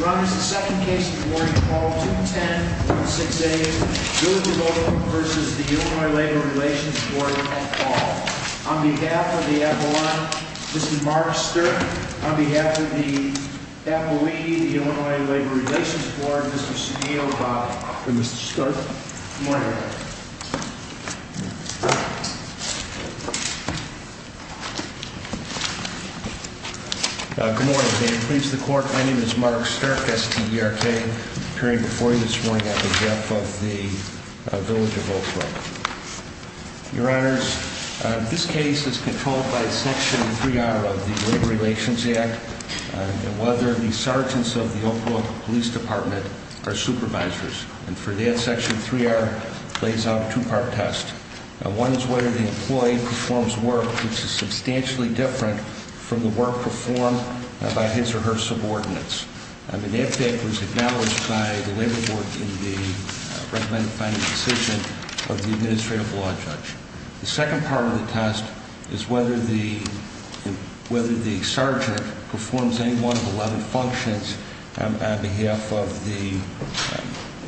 Ron, this is the second case of the morning. Call 210-168, Brook Brook v. Illinois Labor Relations Board. I'll call. On behalf of the Apollon, Mr. Mark Sturt. On behalf of the Apollon, Illinois Labor Relations Board, Mr. Sunil Bhatia. Good morning, Mr. Sturt. Good morning. Good morning. May it please the court, my name is Mark Sturt, S-T-E-R-K, appearing before you this morning on behalf of the village of Oak Brook. Your honors, this case is controlled by Section 3R of the Labor Relations Act, and whether the sergeants of the Oak Brook Police Department are supervisors. And for that, Section 3R plays out a two-part test. One is whether the employee performs work which is substantially different from the work performed by his or her subordinates. And that was acknowledged by the Labor Board in the recommended final decision of the Administrative Law Judge. The second part of the test is whether the sergeant performs any one of the 11 functions on behalf of the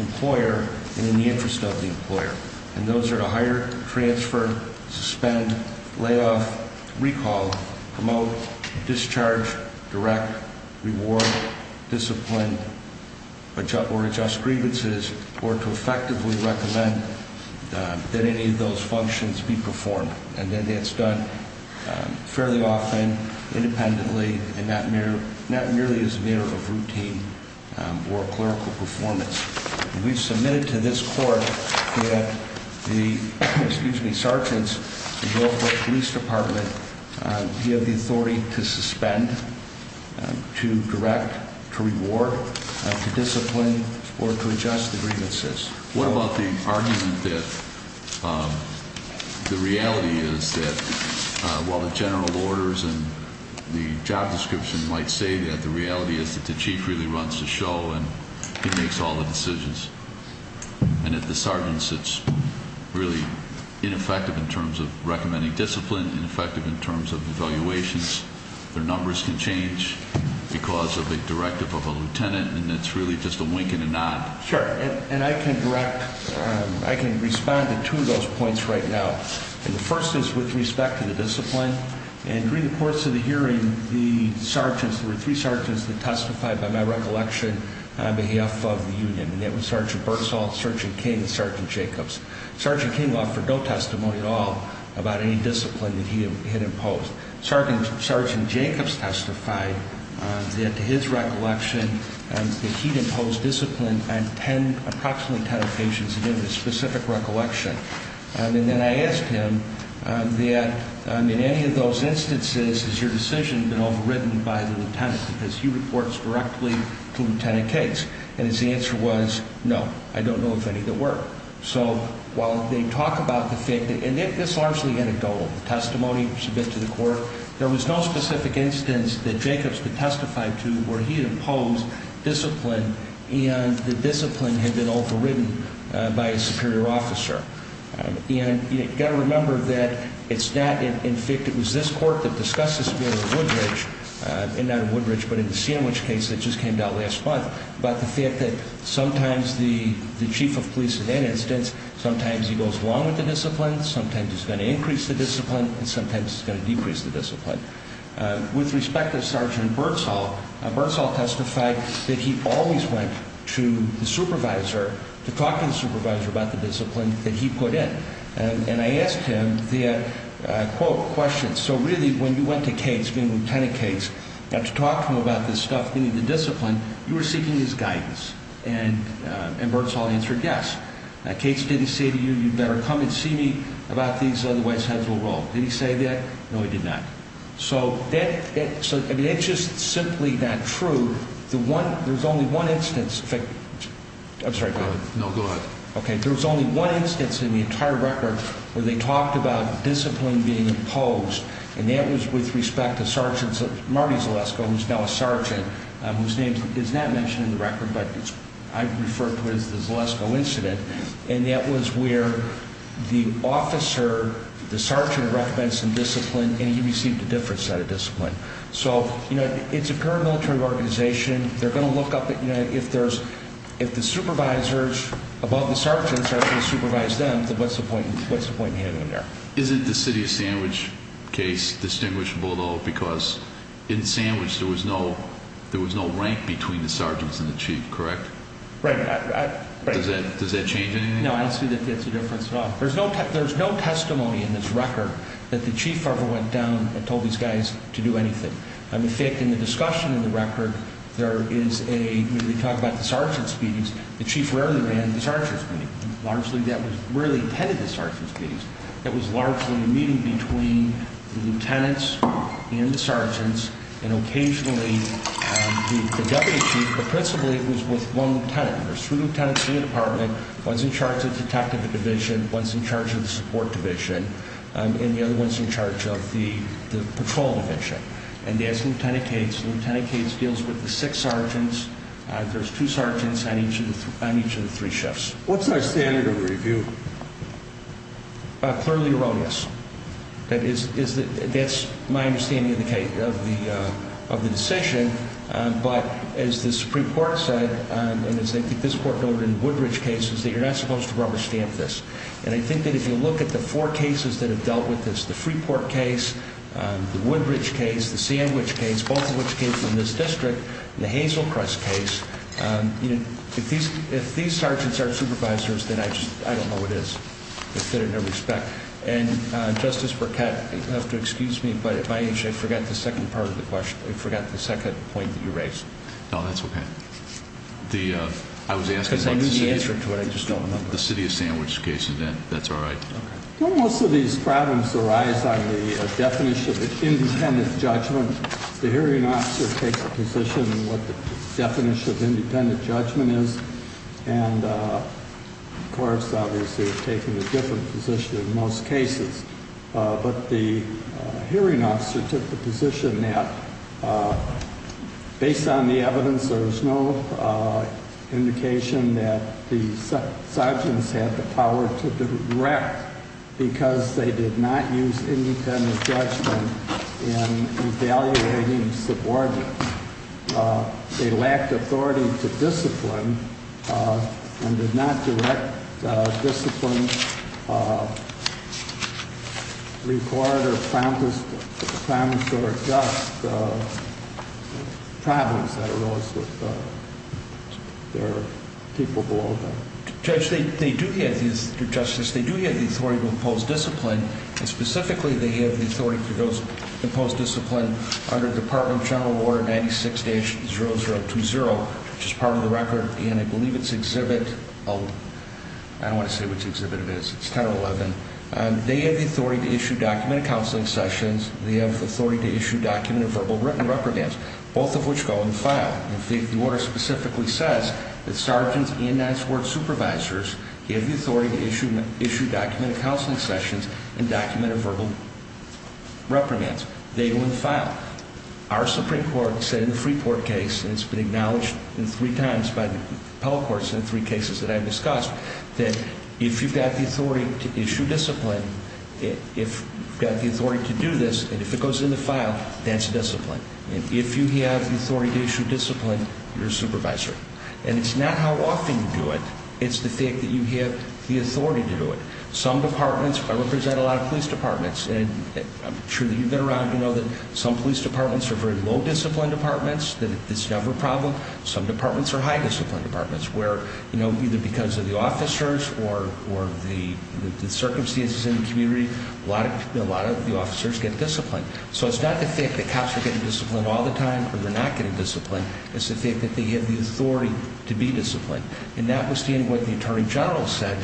employer and in the interest of the employer. And those are to hire, transfer, suspend, lay off, recall, promote, discharge, direct, reward, discipline, or adjust grievances, or to effectively recommend that any of those functions be performed. And then that's done fairly often, independently, and not merely as a matter of routine or clerical performance. We've submitted to this court that the sergeants of the Oak Brook Police Department have the authority to suspend, to direct, to reward, to discipline, or to adjust grievances. What about the argument that the reality is that while the general orders and the job description might say that, the reality is that the chief really runs the show and he makes all the decisions. And if the sergeant sits really ineffective in terms of recommending discipline, ineffective in terms of evaluations, their numbers can change because of a directive of a lieutenant, and it's really just a wink and a nod. Sure, and I can direct, I can respond to two of those points right now. And the first is with respect to the discipline. And during the course of the hearing, the sergeants, there were three sergeants that testified by my recollection on behalf of the union, and that was Sergeant Bursall, Sergeant King, and Sergeant Jacobs. Sergeant King offered no testimony at all about any discipline that he had imposed. Sergeant Jacobs testified that his recollection that he'd imposed discipline on ten, approximately ten occasions, and given a specific recollection. And then I asked him that in any of those instances, has your decision been overridden by the lieutenant because he reports directly to Lieutenant Cates. And his answer was, no, I don't know of any that were. So while they talk about the fact that, and this largely anecdotal testimony submitted to the court, there was no specific instance that Jacobs could testify to where he had imposed discipline and the discipline had been overridden by a superior officer. And you've got to remember that it's not in fact it was this court that discussed this with Woodridge, and not in Woodridge but in the Sandwich case that just came out last month, about the fact that sometimes the chief of police in that instance, sometimes he goes along with the discipline, sometimes he's going to increase the discipline, and sometimes he's going to decrease the discipline. With respect to Sergeant Bursall, Bursall testified that he always went to the supervisor to talk to the supervisor about the discipline that he put in. And I asked him the, quote, question, so really when you went to Cates, being Lieutenant Cates, you got to talk to him about this stuff, meaning the discipline, you were seeking his guidance. And Bursall answered yes. Now, Cates, did he say to you, you'd better come and see me about these otherwise heads will roll? Did he say that? No, he did not. So it's just simply not true. There's only one instance. I'm sorry, go ahead. No, go ahead. Okay, there was only one instance in the entire record where they talked about discipline being imposed, and that was with respect to Sergeant Marty Zalesko, who's now a sergeant, whose name is not mentioned in the record, but I refer to it as the Zalesko incident, and that was where the officer, the sergeant recommends some discipline, and he received a different set of discipline. So, you know, it's a paramilitary organization. They're going to look up at, you know, if the supervisors above the sergeants are going to supervise them, then what's the point in having them there? Isn't the city of Sandwich case distinguishable, though, because in Sandwich there was no rank between the sergeants and the chief, correct? Right. Does that change anything? No, I don't see that that's a difference at all. There's no testimony in this record that the chief ever went down and told these guys to do anything. In fact, in the discussion of the record, there is a, when they talk about the sergeants' meetings, the chief rarely ran the sergeants' meetings. Largely that was rarely attended the sergeants' meetings. It was largely a meeting between the lieutenants and the sergeants, and occasionally the deputy chief, but principally it was with one lieutenant. There's three lieutenants in the department, one's in charge of the detective division, one's in charge of the support division, and the other one's in charge of the patrol division. And they ask Lieutenant Cates, and Lieutenant Cates deals with the six sergeants. There's two sergeants on each of the three shifts. What's our standard of review? Clearly erroneous. That's my understanding of the decision. But as the Supreme Court said, and as I think this court noted in Woodbridge cases, that you're not supposed to rubber stamp this. And I think that if you look at the four cases that have dealt with this, the Freeport case, the Woodbridge case, the Sandwich case, both of which came from this district, the Hazelcrest case, if these sergeants aren't supervisors, then I don't know what it is. If they're in their respect. And, Justice Burkett, you'll have to excuse me, but at my age I forgot the second part of the question. I forgot the second point that you raised. No, that's okay. I was asking about the city of Sandwich. Because I knew the answer to it, I just don't remember. The city of Sandwich case, and that's all right. Okay. When most of these problems arise on the definition of independent judgment, the hearing officer takes a position on what the definition of independent judgment is, and the courts obviously have taken a different position in most cases. But the hearing officer took the position that, based on the evidence, there was no indication that the sergeants had the power to direct, because they did not use independent judgment in evaluating subordinates. They lacked authority to discipline and did not direct, discipline, report or promise or adjust the problems that arose with their people below them. Judge, they do have the authority to impose discipline, and specifically they have the authority to impose discipline under Department of General Order 96-0020, which is part of the record, and I believe it's Exhibit 11. I don't want to say which exhibit it is. It's 10 or 11. They have the authority to issue documented counseling sessions. They have the authority to issue documented verbal written reprimands, both of which go in the file. In fact, the order specifically says that sergeants and as court supervisors have the authority to issue documented counseling sessions and documented verbal reprimands. They go in the file. Our Supreme Court said in the Freeport case, and it's been acknowledged three times by the appellate courts in the three cases that I've discussed, that if you've got the authority to issue discipline, if you've got the authority to do this, and if it goes in the file, that's discipline. And if you have the authority to issue discipline, you're a supervisor. And it's not how often you do it. It's the fact that you have the authority to do it. Some departments, I represent a lot of police departments, and I'm sure that you've been around to know that some police departments are very low-discipline departments, that it's never a problem. Some departments are high-discipline departments where, you know, either because of the officers or the circumstances in the community, a lot of the officers get disciplined. So it's not the fact that cops are getting disciplined all the time or they're not getting disciplined. It's the fact that they have the authority to be disciplined. And notwithstanding what the attorney general said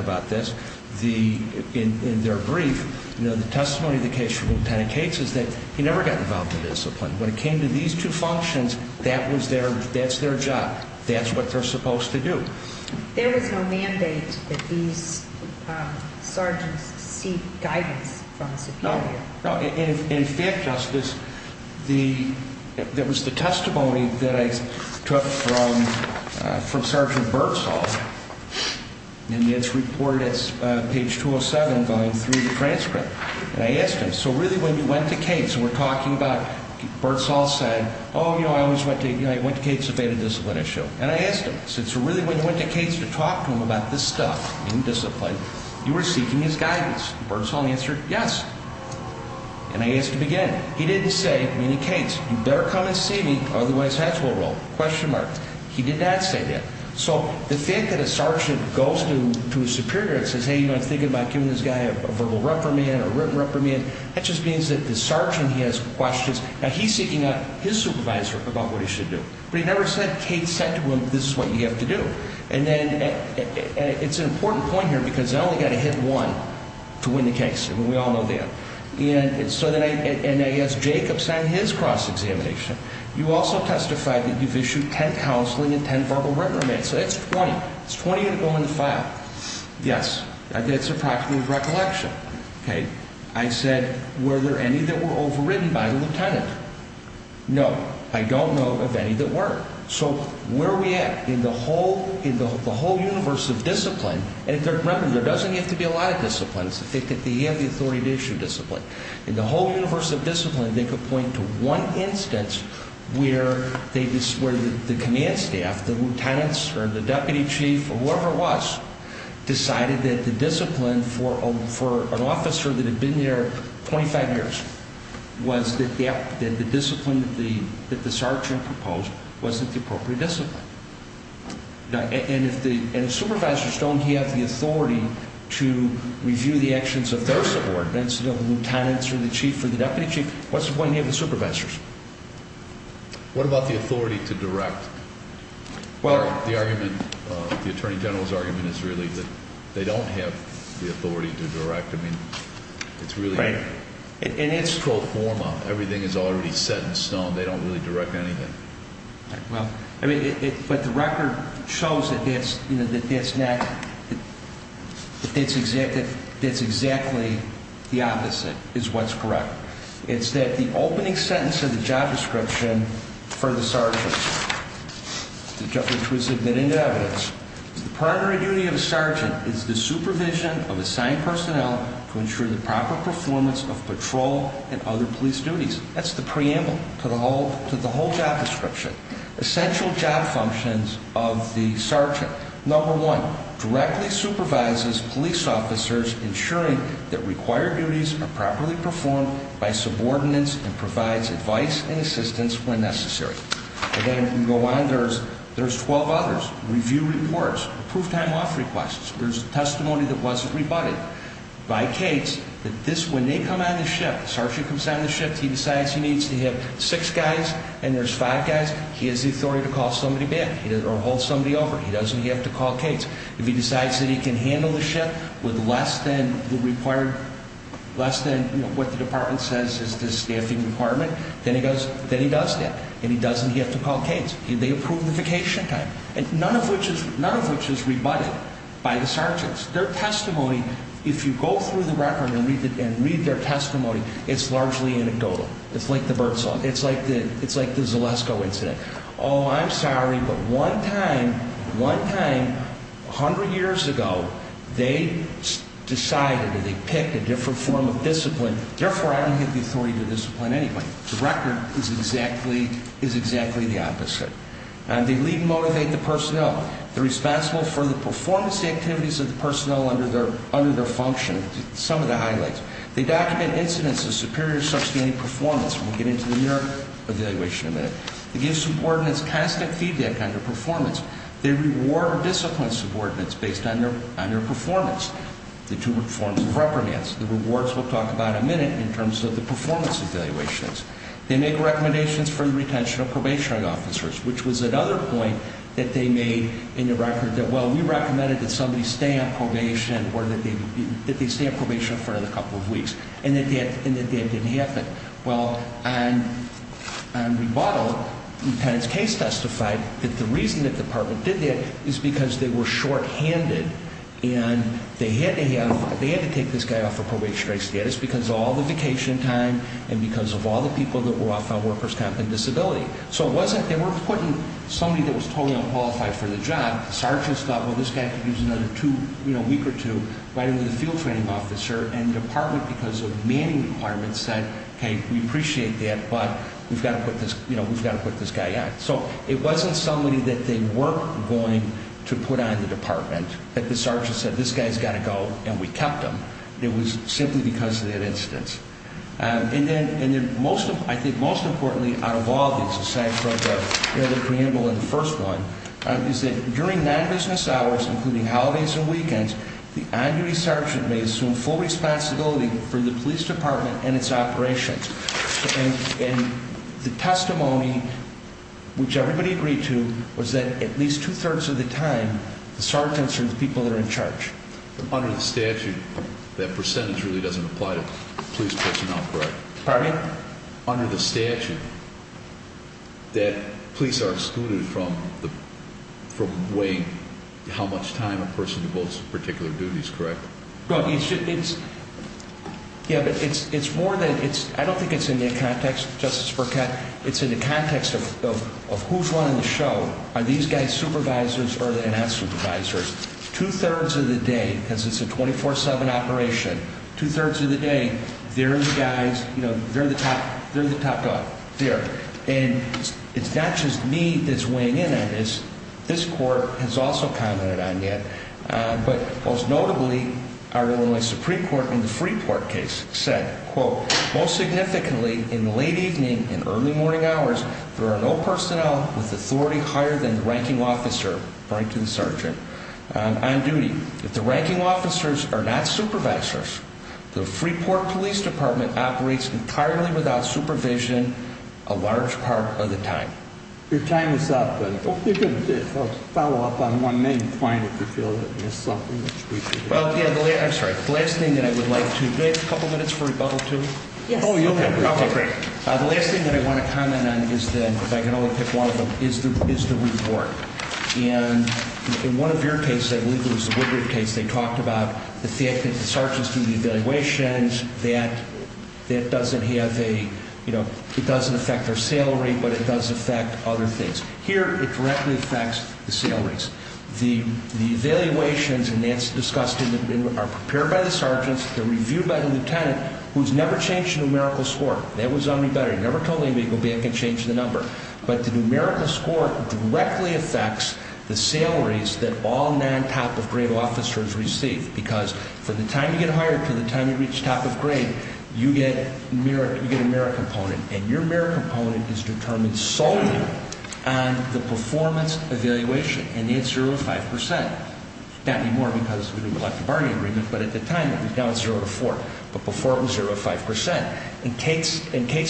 about this, in their brief, the testimony of the case from Lieutenant Cates is that he never got involved in discipline. When it came to these two functions, that's their job. That's what they're supposed to do. There is no mandate that these sergeants seek guidance from the superior. In fact, Justice, there was the testimony that I took from Sergeant Bertsall in his report that's page 207 going through the transcript. And I asked him, so really when you went to Cates, and we're talking about Bertsall said, oh, you know, I always went to Cates to debate a discipline issue. And I asked him, so really when you went to Cates to talk to him about this stuff in discipline, you were seeking his guidance. Bertsall answered yes. And I asked him again. He didn't say, meaning Cates, you better come and see me, otherwise hats will roll, question mark. He did not say that. So the fact that a sergeant goes to his superior and says, hey, you know, I'm thinking about giving this guy a verbal reprimand, a written reprimand, that just means that the sergeant, he has questions. Now, he's seeking out his supervisor about what he should do. But he never said, Cates said to him, this is what you have to do. And then it's an important point here because I only got to hit one to win the case. And we all know that. And so then I asked Jacobs on his cross-examination, you also testified that you've issued 10 counseling and 10 verbal reprimands. So that's 20. That's 20 that go in the file. Yes. That's a practical recollection. Okay. I said, were there any that were overridden by the lieutenant? No. I don't know of any that weren't. So where are we at? In the whole universe of discipline, and there doesn't have to be a lot of discipline. It's the fact that they have the authority to issue discipline. In the whole universe of discipline, they could point to one instance where the command staff, the lieutenants, or the deputy chief, or whoever it was, decided that the discipline for an officer that had been there 25 years was that the discipline that the sergeant proposed wasn't the appropriate discipline. And if supervisors don't have the authority to review the actions of their subordinates, the lieutenants or the chief or the deputy chief, what's the point in having supervisors? What about the authority to direct? The attorney general's argument is really that they don't have the authority to direct. I mean, it's really in its full form. Everything is already set in stone. They don't really direct anything. Well, I mean, but the record shows that that's exactly the opposite is what's correct. It's that the opening sentence of the job description for the sergeant, which was submitted into evidence, the primary duty of a sergeant is the supervision of assigned personnel to ensure the proper performance of patrol and other police duties. That's the preamble to the whole job description. Essential job functions of the sergeant. Number one, directly supervises police officers, ensuring that required duties are properly performed by subordinates and provides advice and assistance when necessary. Again, if we go on, there's 12 others. Review reports, approved time off requests. There's testimony that wasn't rebutted by Cates. When they come on the ship, sergeant comes on the ship, he decides he needs to have six guys and there's five guys. He has the authority to call somebody back or hold somebody over. He doesn't have to call Cates. If he decides that he can handle the ship with less than what the department says is the staffing requirement, then he does that, and he doesn't have to call Cates. They approve the vacation time, none of which is rebutted by the sergeants. Their testimony, if you go through the record and read their testimony, it's largely anecdotal. It's like the birdsong. It's like the Zalesko incident. Oh, I'm sorry, but one time, 100 years ago, they decided or they picked a different form of discipline, therefore I don't have the authority to discipline anyway. The record is exactly the opposite. They lead and motivate the personnel. They're responsible for the performance activities of the personnel under their function. Some of the highlights. They document incidents of superior or substantive performance. We'll get into the mere evaluation in a minute. They give subordinates constant feedback on their performance. They reward or discipline subordinates based on their performance. The two forms of reprimands. The rewards we'll talk about in a minute in terms of the performance evaluations. They make recommendations for the retention of probationary officers, which was another point that they made in the record that, well, we recommended that somebody stay on probation or that they stay on probation for another couple of weeks, and that that didn't happen. Well, on rebuttal, the patent's case testified that the reason the department did that is because they were shorthanded, and they had to take this guy off of probationary status because of all the vacation time and because of all the people that were off on workers' comp and disability. So they were putting somebody that was totally unqualified for the job. The sergeants thought, well, this guy could use another week or two, right under the field training officer, and the department, because of manning requirements, said, okay, we appreciate that, but we've got to put this guy out. So it wasn't somebody that they were going to put on the department, that the sergeant said, this guy's got to go, and we kept him. It was simply because of that instance. And then I think most importantly out of all these, aside from the preamble in the first one, is that during non-business hours, including holidays and weekends, the on-duty sergeant may assume full responsibility for the police department and its operations. And the testimony, which everybody agreed to, was that at least two-thirds of the time the sergeants are the people that are in charge. Under the statute, that percentage really doesn't apply to police personnel, correct? Pardon me? Under the statute, that police are excluded from weighing how much time a person devotes to particular duties, correct? Yeah, but it's more than that. I don't think it's in that context, Justice Burkett. It's in the context of who's running the show. Are these guys supervisors or are they not supervisors? Two-thirds of the day, because it's a 24-7 operation, two-thirds of the day, they're the guys, you know, they're the top dog there. And it's not just me that's weighing in on this. This Court has also commented on it, but most notably our Illinois Supreme Court in the Freeport case said, quote, most significantly in the late evening and early morning hours, there are no personnel with authority higher than the ranking officer, according to the sergeant, on duty. If the ranking officers are not supervisors, the Freeport Police Department operates entirely without supervision a large part of the time. Your time is up. And if you could follow up on one main point, if you feel that there's something that we could do. I'm sorry. The last thing that I would like to do, do I have a couple minutes for rebuttal, too? Yes. Oh, yeah, probably. The last thing that I want to comment on is that, if I can only pick one of them, is the reward. And in one of your cases, I believe it was the Woodruff case, they talked about the fact that the sergeants do the evaluations, that that doesn't have a, you know, it doesn't affect their salary, but it does affect other things. Here, it directly affects the salaries. The evaluations, and that's discussed, are prepared by the sergeants, they're reviewed by the lieutenant, who's never changed a numerical score. That was on rebuttal. He never told anybody to go back and change the number. But the numerical score directly affects the salaries that all non-top-of-grade officers receive, because from the time you get hired to the time you reach top of grade, you get a merit component. And your merit component is determined solely on the performance evaluation, and it's 0 to 5 percent. Not anymore, because we didn't elect a bargaining agreement, but at the time, now it's 0 to 4. But before, it was 0 to 5 percent. And Kate's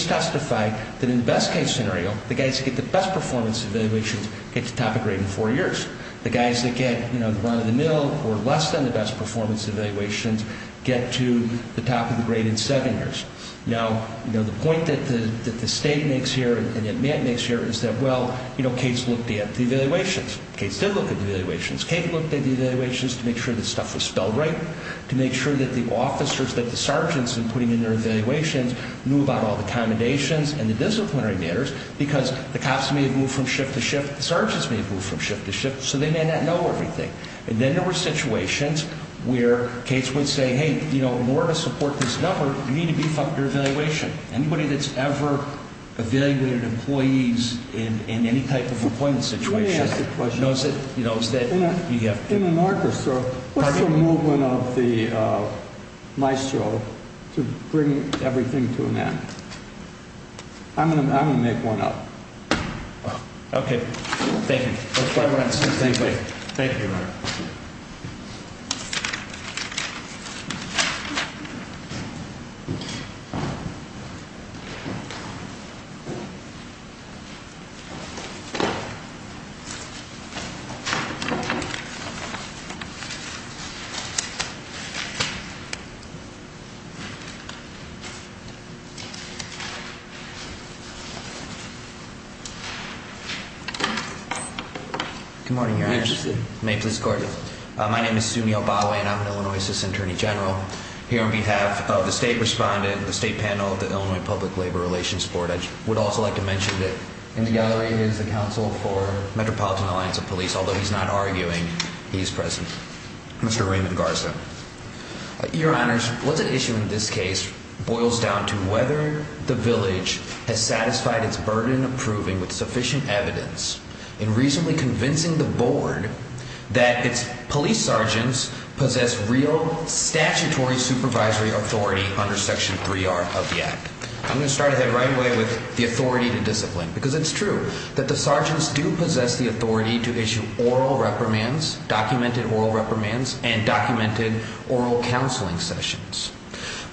testified that in the best-case scenario, the guys who get the best performance evaluations get to top of grade in four years. The guys that get, you know, the run of the mill or less than the best performance evaluations get to the top of the grade in seven years. Now, you know, the point that the State makes here and that Matt makes here is that, well, you know, Kate's looked at the evaluations. Kate's did look at the evaluations. Kate looked at the evaluations to make sure that stuff was spelled right, to make sure that the officers, that the sergeants, in putting in their evaluations, knew about all the commendations and the disciplinary matters, because the cops may have moved from ship to ship, the sergeants may have moved from ship to ship, so they may not know everything. And then there were situations where Kate's would say, hey, you know, in order to support this number, you need to beef up your evaluation. Anybody that's ever evaluated employees in any type of employment situation knows that you have to. In an orchestra, what's the movement of the maestro to bring everything to an end? I'm going to make one up. Okay. Thank you. Thank you. Good morning, Your Honors. May it please the Court. My name is Sunil Bawe, and I'm an Illinois Assistant Attorney General. Here on behalf of the State Respondent and the State Panel of the Illinois Public Labor Relations Board, I would also like to mention that in the gallery is the Counsel for Metropolitan Alliance of Police. Although he's not arguing, he is present. Mr. Raymond Garza. Your Honors, what's at issue in this case boils down to whether the village has satisfied its burden of proving with sufficient evidence in reasonably convincing the Board that its police sergeants possess real statutory supervisory authority under Section 3R of the Act. I'm going to start right away with the authority to discipline, because it's true that the sergeants do possess the authority to issue oral reprimands, documented oral reprimands, and documented oral counseling sessions.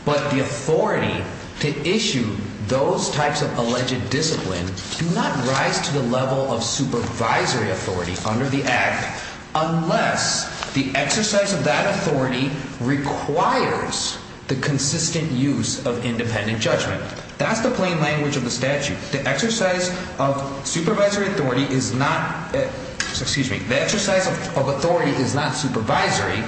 But the authority to issue those types of alleged discipline do not rise to the level of supervisory authority under the Act unless the exercise of that authority requires the consistent use of independent judgment. That's the plain language of the statute. The exercise of supervisory authority is not, excuse me, the exercise of authority is not supervisory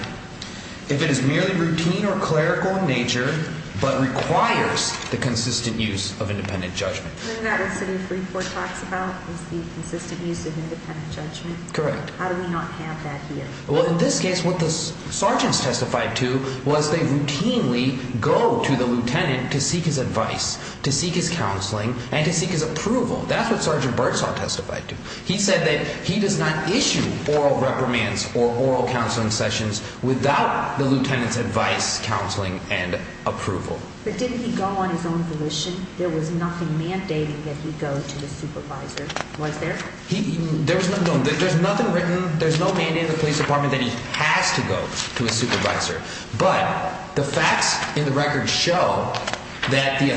if it is merely routine or clerical in nature but requires the consistent use of independent judgment. Isn't that what City 3-4 talks about is the consistent use of independent judgment? Correct. How do we not have that here? Well, in this case, what the sergeants testified to was they routinely go to the lieutenant to seek his advice, to seek his counseling, and to seek his approval. That's what Sergeant Bursaw testified to. He said that he does not issue oral reprimands or oral counseling sessions without the lieutenant's advice, counseling, and approval. But didn't he go on his own volition? There was nothing mandating that he go to the supervisor, was there? There's nothing written, there's no mandate in the police department that he has to go to a supervisor. But the facts in the record show that the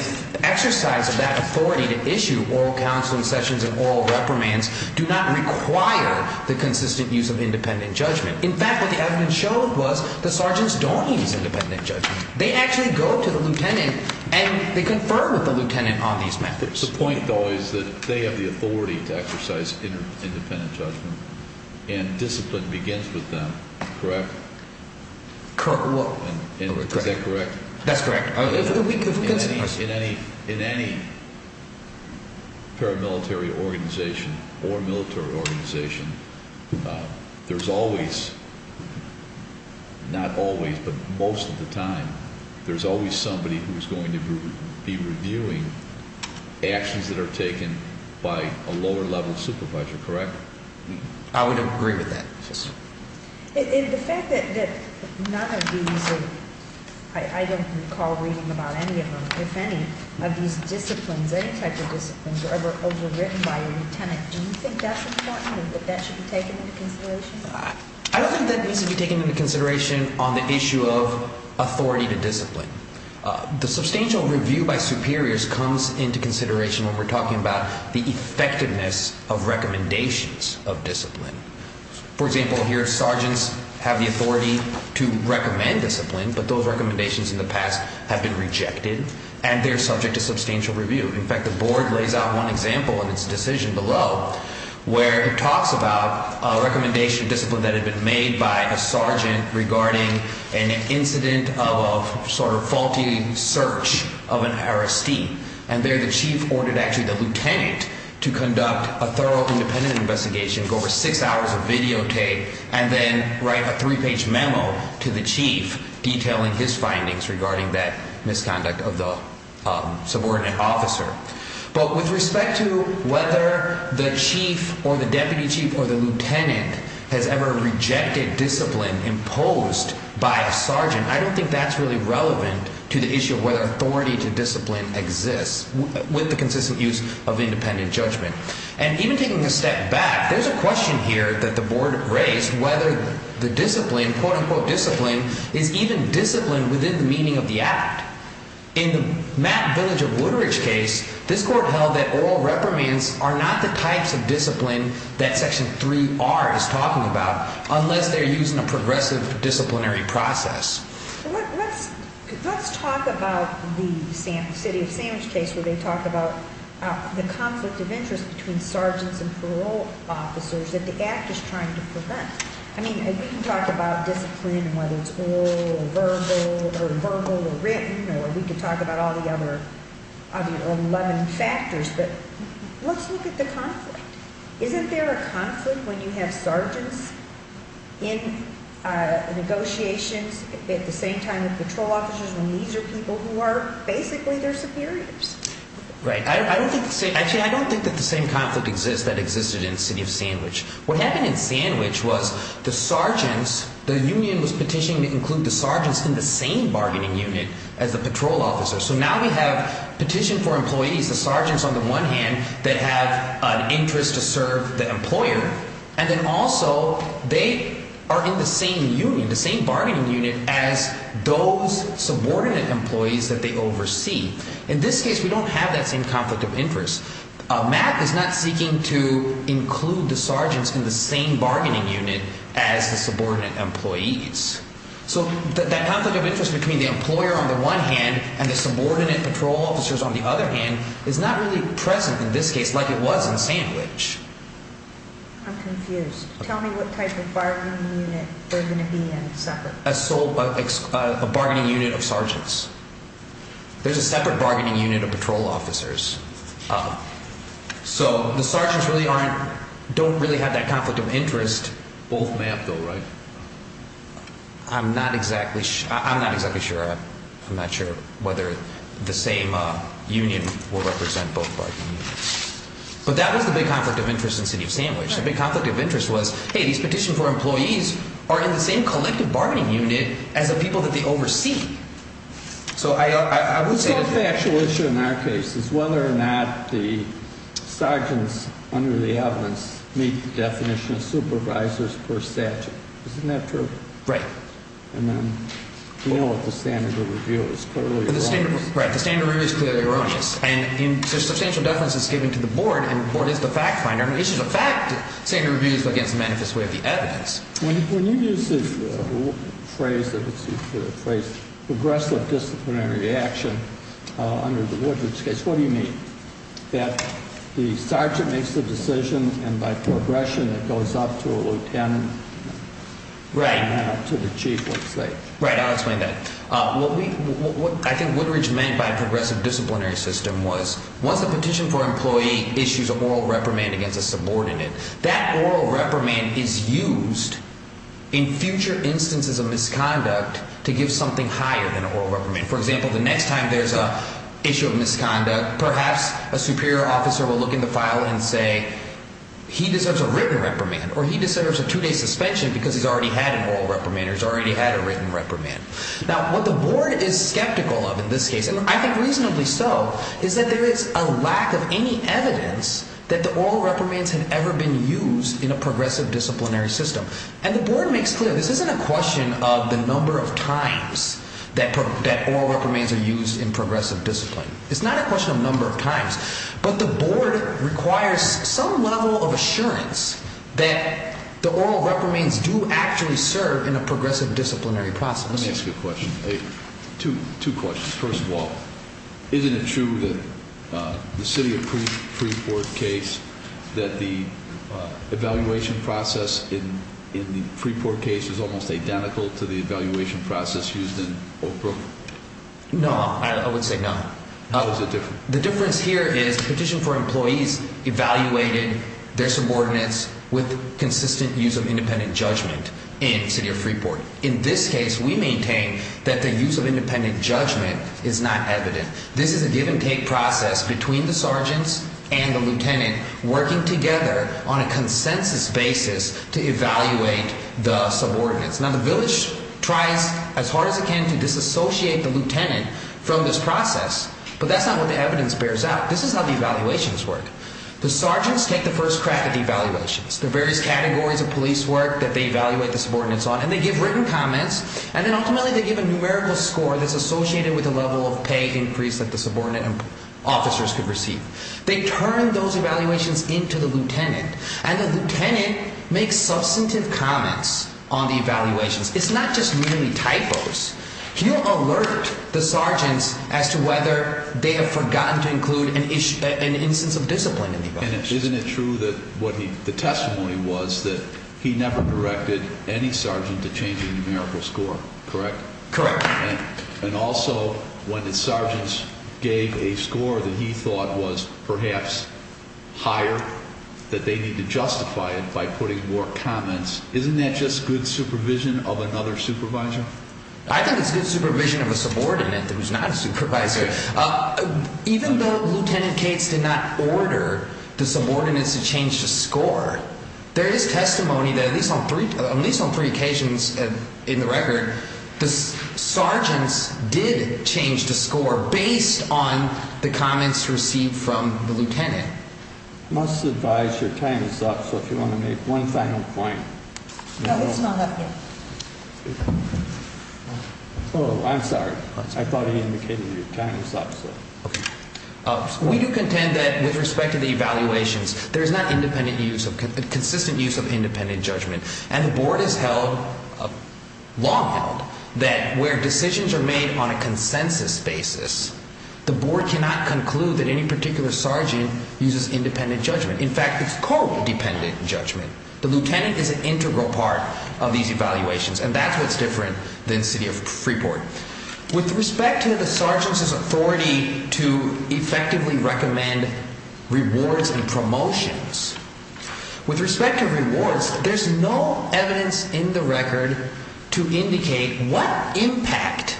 exercise of that authority to issue oral counseling sessions and oral reprimands do not require the consistent use of independent judgment. In fact, what the evidence showed was the sergeants don't use independent judgment. They actually go to the lieutenant and they confer with the lieutenant on these methods. The point, though, is that they have the authority to exercise independent judgment, and discipline begins with them, correct? Correct. Is that correct? That's correct. In any paramilitary organization or military organization, there's always, not always, but most of the time, there's always somebody who's going to be reviewing actions that are taken by a lower level supervisor, correct? I would agree with that. The fact that none of these, I don't recall reading about any of them, if any, of these disciplines, any type of disciplines are ever overwritten by a lieutenant, do you think that's important and that that should be taken into consideration? I don't think that needs to be taken into consideration on the issue of authority to discipline. The substantial review by superiors comes into consideration when we're talking about the effectiveness of recommendations of discipline. For example, here, sergeants have the authority to recommend discipline, but those recommendations in the past have been rejected and they're subject to substantial review. In fact, the board lays out one example in its decision below where it talks about a recommendation of discipline that had been made by a sergeant regarding an incident of a sort of faulty search of an arrestee, and there the chief ordered actually the lieutenant to conduct a thorough independent investigation, go over six hours of videotape, and then write a three-page memo to the chief detailing his findings regarding that misconduct of the subordinate officer. But with respect to whether the chief or the deputy chief or the lieutenant has ever rejected discipline imposed by a sergeant, I don't think that's really relevant to the issue of whether authority to discipline exists with the consistent use of independent judgment. And even taking a step back, there's a question here that the board raised whether the discipline, quote-unquote discipline, is even discipline within the meaning of the act. In the Matt Village of Woodridge case, this court held that oral reprimands are not the types of discipline that Section 3R is talking about unless they're using a progressive disciplinary process. Let's talk about the city of Sandwich case where they talk about the conflict of interest between sergeants and parole officers that the act is trying to prevent. I mean, we can talk about discipline and whether it's oral or verbal or verbal or written, or we could talk about all the other 11 factors, but let's look at the conflict. Isn't there a conflict when you have sergeants in negotiations at the same time as patrol officers when these are people who are basically their superiors? Right. Actually, I don't think that the same conflict exists that existed in the city of Sandwich. What happened in Sandwich was the sergeants, the union was petitioning to include the sergeants in the same bargaining unit as the patrol officers. So now we have petition for employees, the sergeants on the one hand that have an interest to serve the employer, and then also they are in the same union, the same bargaining unit as those subordinate employees that they oversee. In this case, we don't have that same conflict of interest. Matt is not seeking to include the sergeants in the same bargaining unit as the subordinate employees. So that conflict of interest between the employer on the one hand and the subordinate patrol officers on the other hand is not really present in this case like it was in Sandwich. I'm confused. Tell me what type of bargaining unit we're going to be in separately. A bargaining unit of sergeants. There's a separate bargaining unit of patrol officers. So the sergeants don't really have that conflict of interest. Both may have, though, right? I'm not exactly sure. I'm not sure whether the same union will represent both bargaining units. But that was the big conflict of interest in the city of Sandwich. The big conflict of interest was, hey, these petition for employees are in the same collective bargaining unit as the people that they oversee. It's not a factual issue in our case. It's whether or not the sergeants under the evidence meet the definition of supervisors per statute. Isn't that true? Right. And then we know that the standard of review is clearly erroneous. Right. The standard of review is clearly erroneous. And there's substantial deference that's given to the board, and the board is the fact finder. It's just a fact that the standard of review is against the manifest way of the evidence. When you use the phrase progressive disciplinary action under the Woodridge case, what do you mean? That the sergeant makes the decision, and by progression it goes up to a lieutenant and not up to the chief, let's say? Right, I'll explain that. What I think Woodridge meant by progressive disciplinary system was once a petition for employee issues an oral reprimand against a subordinate, that oral reprimand is used in future instances of misconduct to give something higher than an oral reprimand. For example, the next time there's an issue of misconduct, perhaps a superior officer will look in the file and say he deserves a written reprimand or he deserves a two-day suspension because he's already had an oral reprimand or he's already had a written reprimand. Now, what the board is skeptical of in this case, and I think reasonably so, is that there is a lack of any evidence that the oral reprimands have ever been used in a progressive disciplinary system. And the board makes clear this isn't a question of the number of times that oral reprimands are used in progressive discipline. It's not a question of number of times, but the board requires some level of assurance that the oral reprimands do actually serve in a progressive disciplinary process. Let me ask you a question. Two questions. First of all, isn't it true that the city of Freeport case, that the evaluation process in the Freeport case is almost identical to the evaluation process used in Oak Brook? No, I would say no. How is it different? The difference here is the petition for employees evaluated their subordinates with consistent use of independent judgment in the city of Freeport. In this case, we maintain that the use of independent judgment is not evident. This is a give and take process between the sergeants and the lieutenant working together on a consensus basis to evaluate the subordinates. Now, the village tries as hard as it can to disassociate the lieutenant from this process, but that's not what the evidence bears out. This is how the evaluations work. The sergeants take the first crack at the evaluations. There are various categories of police work that they evaluate the subordinates on, and they give written comments, and then ultimately they give a numerical score that's associated with the level of pay increase that the subordinate officers could receive. They turn those evaluations into the lieutenant, and the lieutenant makes substantive comments on the evaluations. It's not just merely typos. He'll alert the sergeants as to whether they have forgotten to include an instance of discipline in the evaluations. And isn't it true that what the testimony was that he never directed any sergeant to change the numerical score, correct? Correct. And also when the sergeants gave a score that he thought was perhaps higher, that they need to justify it by putting more comments. Isn't that just good supervision of another supervisor? I think it's good supervision of a subordinate that was not a supervisor. Even though Lieutenant Cates did not order the subordinates to change the score, there is testimony that at least on three occasions in the record, the sergeants did change the score based on the comments received from the lieutenant. I must advise your time is up, so if you want to make one final point. No, it's not up yet. Oh, I'm sorry. I thought he indicated your time is up. We do contend that with respect to the evaluations, there is not consistent use of independent judgment. And the board has long held that where decisions are made on a consensus basis, the board cannot conclude that any particular sergeant uses independent judgment. In fact, it's court-dependent judgment. The lieutenant is an integral part of these evaluations, and that's what's different than the city of Freeport. With respect to the sergeants' authority to effectively recommend rewards and promotions, with respect to rewards, there's no evidence in the record to indicate what impact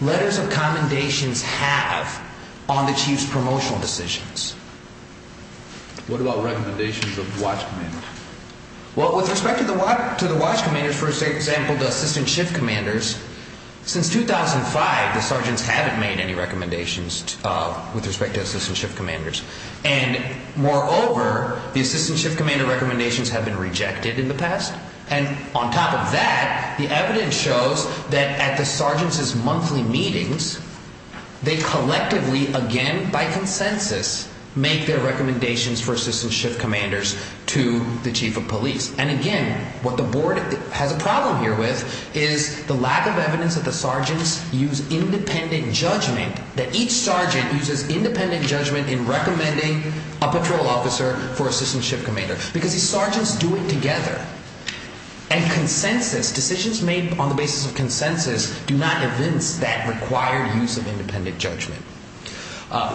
letters of commendations have on the chief's promotional decisions. What about recommendations of watch commanders? Well, with respect to the watch commanders, for example, the assistant shift commanders, since 2005, the sergeants haven't made any recommendations with respect to assistant shift commanders. And, moreover, the assistant shift commander recommendations have been rejected in the past. And on top of that, the evidence shows that at the sergeants' monthly meetings, they collectively, again by consensus, make their recommendations for assistant shift commanders to the chief of police. And, again, what the board has a problem here with is the lack of evidence that the sergeants use independent judgment, that each sergeant uses independent judgment in recommending a patrol officer for assistant shift commander. Because these sergeants do it together. And consensus, decisions made on the basis of consensus, do not evince that required use of independent judgment.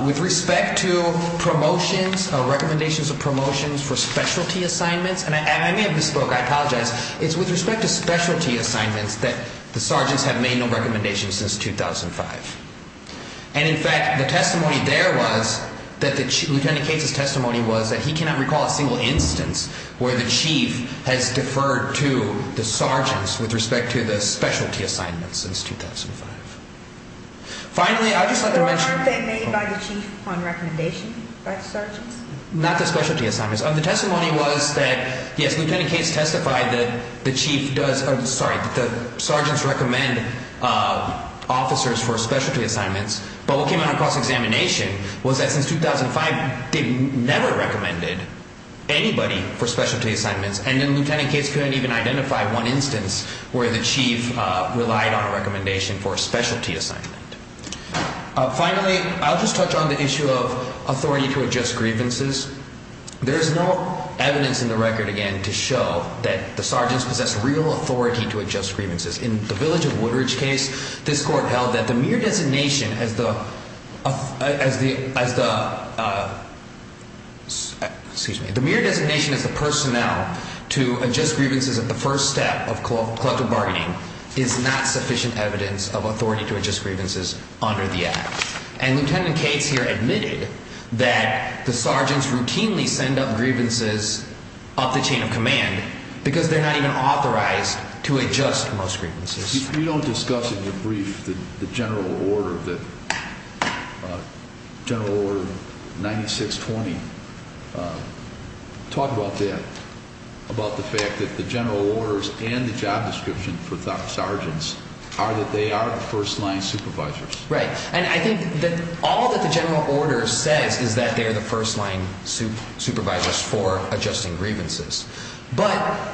With respect to promotions, recommendations of promotions for specialty assignments, and I may have misspoke. I apologize. It's with respect to specialty assignments that the sergeants have made no recommendations since 2005. And, in fact, the testimony there was that the lieutenant case's testimony was that he cannot recall a single instance where the chief has deferred to the sergeants with respect to the specialty assignments since 2005. Finally, I'd just like to mention… So there aren't they made by the chief on recommendation by the sergeants? Not the specialty assignments. The testimony was that, yes, lieutenant case testified that the sergeants recommend officers for specialty assignments. But what came out of cross-examination was that since 2005, they never recommended anybody for specialty assignments. And then lieutenant case couldn't even identify one instance where the chief relied on a recommendation for a specialty assignment. Finally, I'll just touch on the issue of authority to adjust grievances. There is no evidence in the record, again, to show that the sergeants possess real authority to adjust grievances. In the Village of Woodridge case, this court held that the mere designation as the – excuse me. The mere designation as the personnel to adjust grievances at the first step of collective bargaining is not sufficient evidence of authority to adjust grievances under the act. And lieutenant case here admitted that the sergeants routinely send up grievances up the chain of command because they're not even authorized to adjust most grievances. You don't discuss in your brief the general order that – general order 9620. Talk about that, about the fact that the general orders and the job description for sergeants are that they are first-line supervisors. Right. And I think that all that the general order says is that they are the first-line supervisors for adjusting grievances. But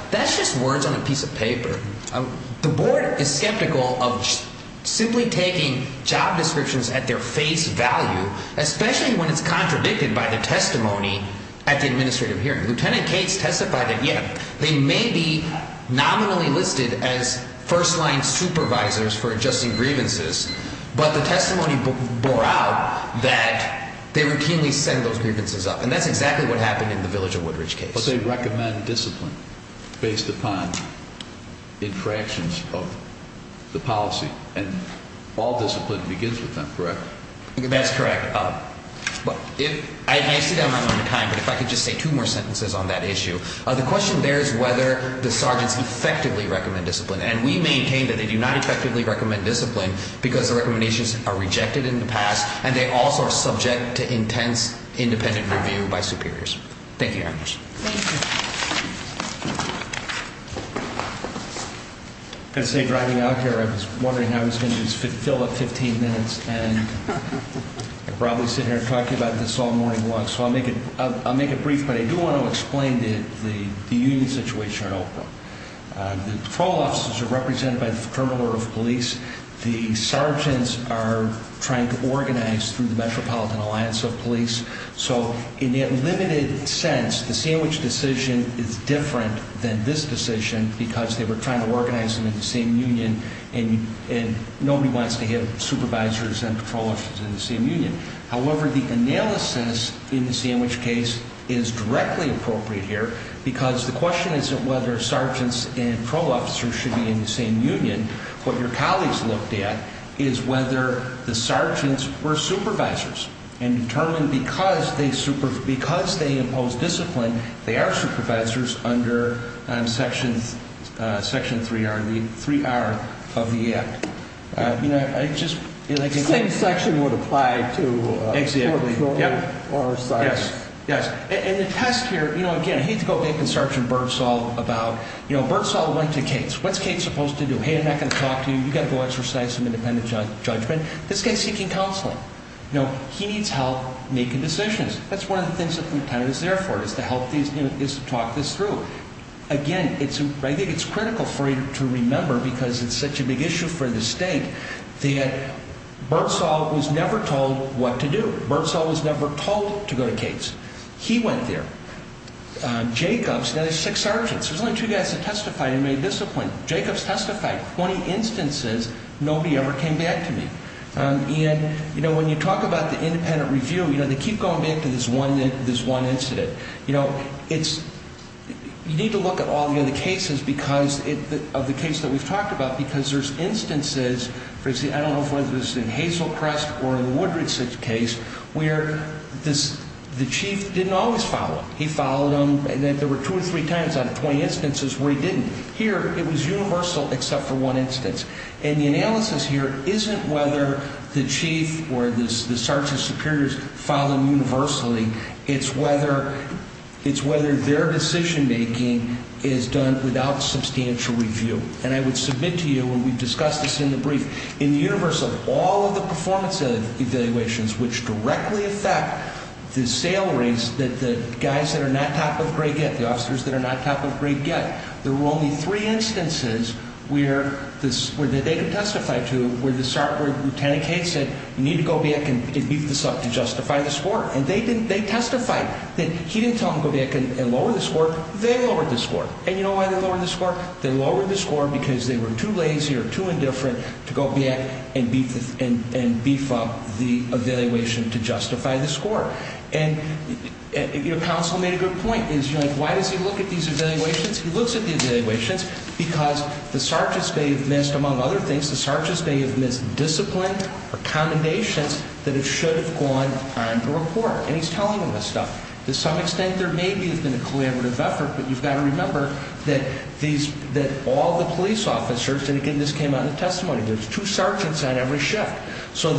that's just words on a piece of paper. The board is skeptical of simply taking job descriptions at their face value, especially when it's contradicted by the testimony at the administrative hearing. Lieutenant Cates testified that, yeah, they may be nominally listed as first-line supervisors for adjusting grievances, but the testimony bore out that they routinely send those grievances up. And that's exactly what happened in the Village of Woodridge case. But they recommend discipline based upon infractions of the policy, and all discipline begins with them, correct? That's correct. I see that I'm running out of time, but if I could just say two more sentences on that issue. The question there is whether the sergeants effectively recommend discipline. And we maintain that they do not effectively recommend discipline because the recommendations are rejected in the past, and they also are subject to intense independent review by superiors. Thank you very much. Thank you. I was going to say, driving out here, I was wondering how I was going to fill up 15 minutes and probably sit here and talk to you about this all morning long. So I'll make it brief, but I do want to explain the union situation. The patrol officers are represented by the criminal order of police. The sergeants are trying to organize through the Metropolitan Alliance of Police. So in that limited sense, the Sandwich decision is different than this decision because they were trying to organize them in the same union, and nobody wants to have supervisors and patrol officers in the same union. However, the analysis in the Sandwich case is directly appropriate here because the question isn't whether sergeants and patrol officers should be in the same union. What your colleagues looked at is whether the sergeants were supervisors and determined because they imposed discipline, they are supervisors under Section 3R of the Act. The same section would apply to patrol officers or sergeants. Yes. Yes. And the test here, you know, again, I hate to go back to Sergeant Birdsaw about, you know, Birdsaw went to Cates. What's Cates supposed to do? Hey, I'm not going to talk to you. You've got to go exercise some independent judgment. This guy's seeking counseling. You know, he needs help making decisions. That's one of the things that the lieutenant is there for is to help these, you know, is to talk this through. Again, I think it's critical for you to remember because it's such a big issue for the state that Birdsaw was never told what to do. Birdsaw was never told to go to Cates. He went there. Jacobs, now there's six sergeants. There's only two guys that testified and made discipline. Jacobs testified 20 instances. Nobody ever came back to me. And, you know, when you talk about the independent review, you know, they keep going back to this one incident. You know, it's you need to look at all the other cases because of the case that we've talked about because there's instances, for instance, I don't know if it was in Hazelcrest or in the Woodridge case where the chief didn't always follow him. He followed him. And there were two or three times out of 20 instances where he didn't. Here it was universal except for one instance. And the analysis here isn't whether the chief or the sergeant superiors followed him universally. It's whether their decision-making is done without substantial review. And I would submit to you, and we've discussed this in the brief, in the universe of all of the performance evaluations, which directly affect the salaries that the guys that are not top of grade get, the officers that are not top of grade get, there were only three instances where they could testify to where the sergeant lieutenant said you need to go back and beef this up to justify the score. And they testified that he didn't tell them to go back and lower the score. They lowered the score. And you know why they lowered the score? They lowered the score because they were too lazy or too indifferent to go back and beef up the evaluation to justify the score. And your counsel made a good point. Why does he look at these evaluations? He looks at the evaluations because the sergeants may have missed, among other things, the sergeants may have missed discipline or commendations that should have gone on the report. And he's telling them this stuff. To some extent there may have been a collaborative effort, but you've got to remember that all the police officers, and again this came out in the testimony, there's two sergeants on every shift. So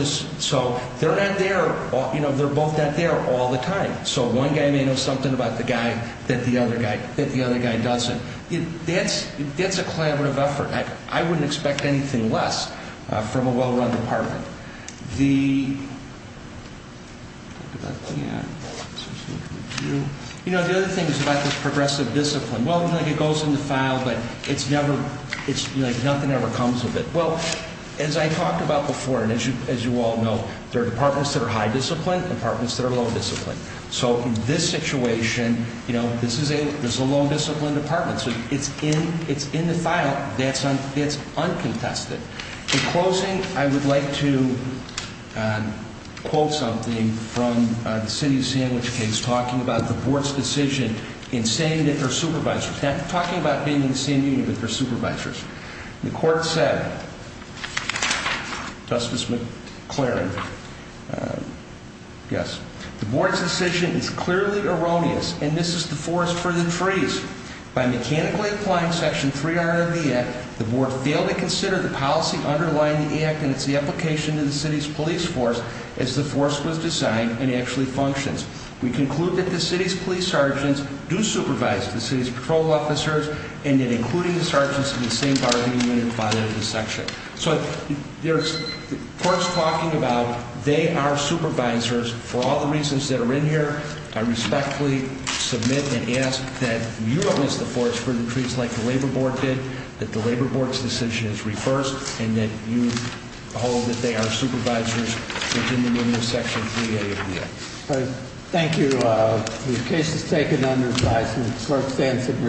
they're not there, you know, they're both not there all the time. So one guy may know something about the guy that the other guy doesn't. That's a collaborative effort. I wouldn't expect anything less from a well-run department. The other thing is about this progressive discipline. Well, like it goes in the file, but it's never, it's like nothing ever comes of it. Well, as I talked about before, and as you all know, there are departments that are high discipline and departments that are low discipline. So in this situation, you know, this is a low discipline department. So it's in the file. That's uncontested. In closing, I would like to quote something from the city sandwich case talking about the board's decision in saying that they're supervisors, talking about being in the same unit, but they're supervisors. The court said, Justice McLaren, yes. The board's decision is clearly erroneous, and this is the forest for the trees. By mechanically applying section 300 of the act, the board failed to consider the policy underlying the act, and it's the application to the city's police force as the force was designed and actually functions. We conclude that the city's police sergeants do supervise the city's patrol officers, and that including the sergeants in the same bargaining unit apply that in this section. So the court's talking about they are supervisors for all the reasons that are in here. I respectfully submit and ask that you, as the forest for the trees, like the labor board did, that the labor board's decision is reversed, and that you hold that they are supervisors, and that you continue in your section 3A of the act. Thank you. The case is taken under advisement. The clerk stands agreed.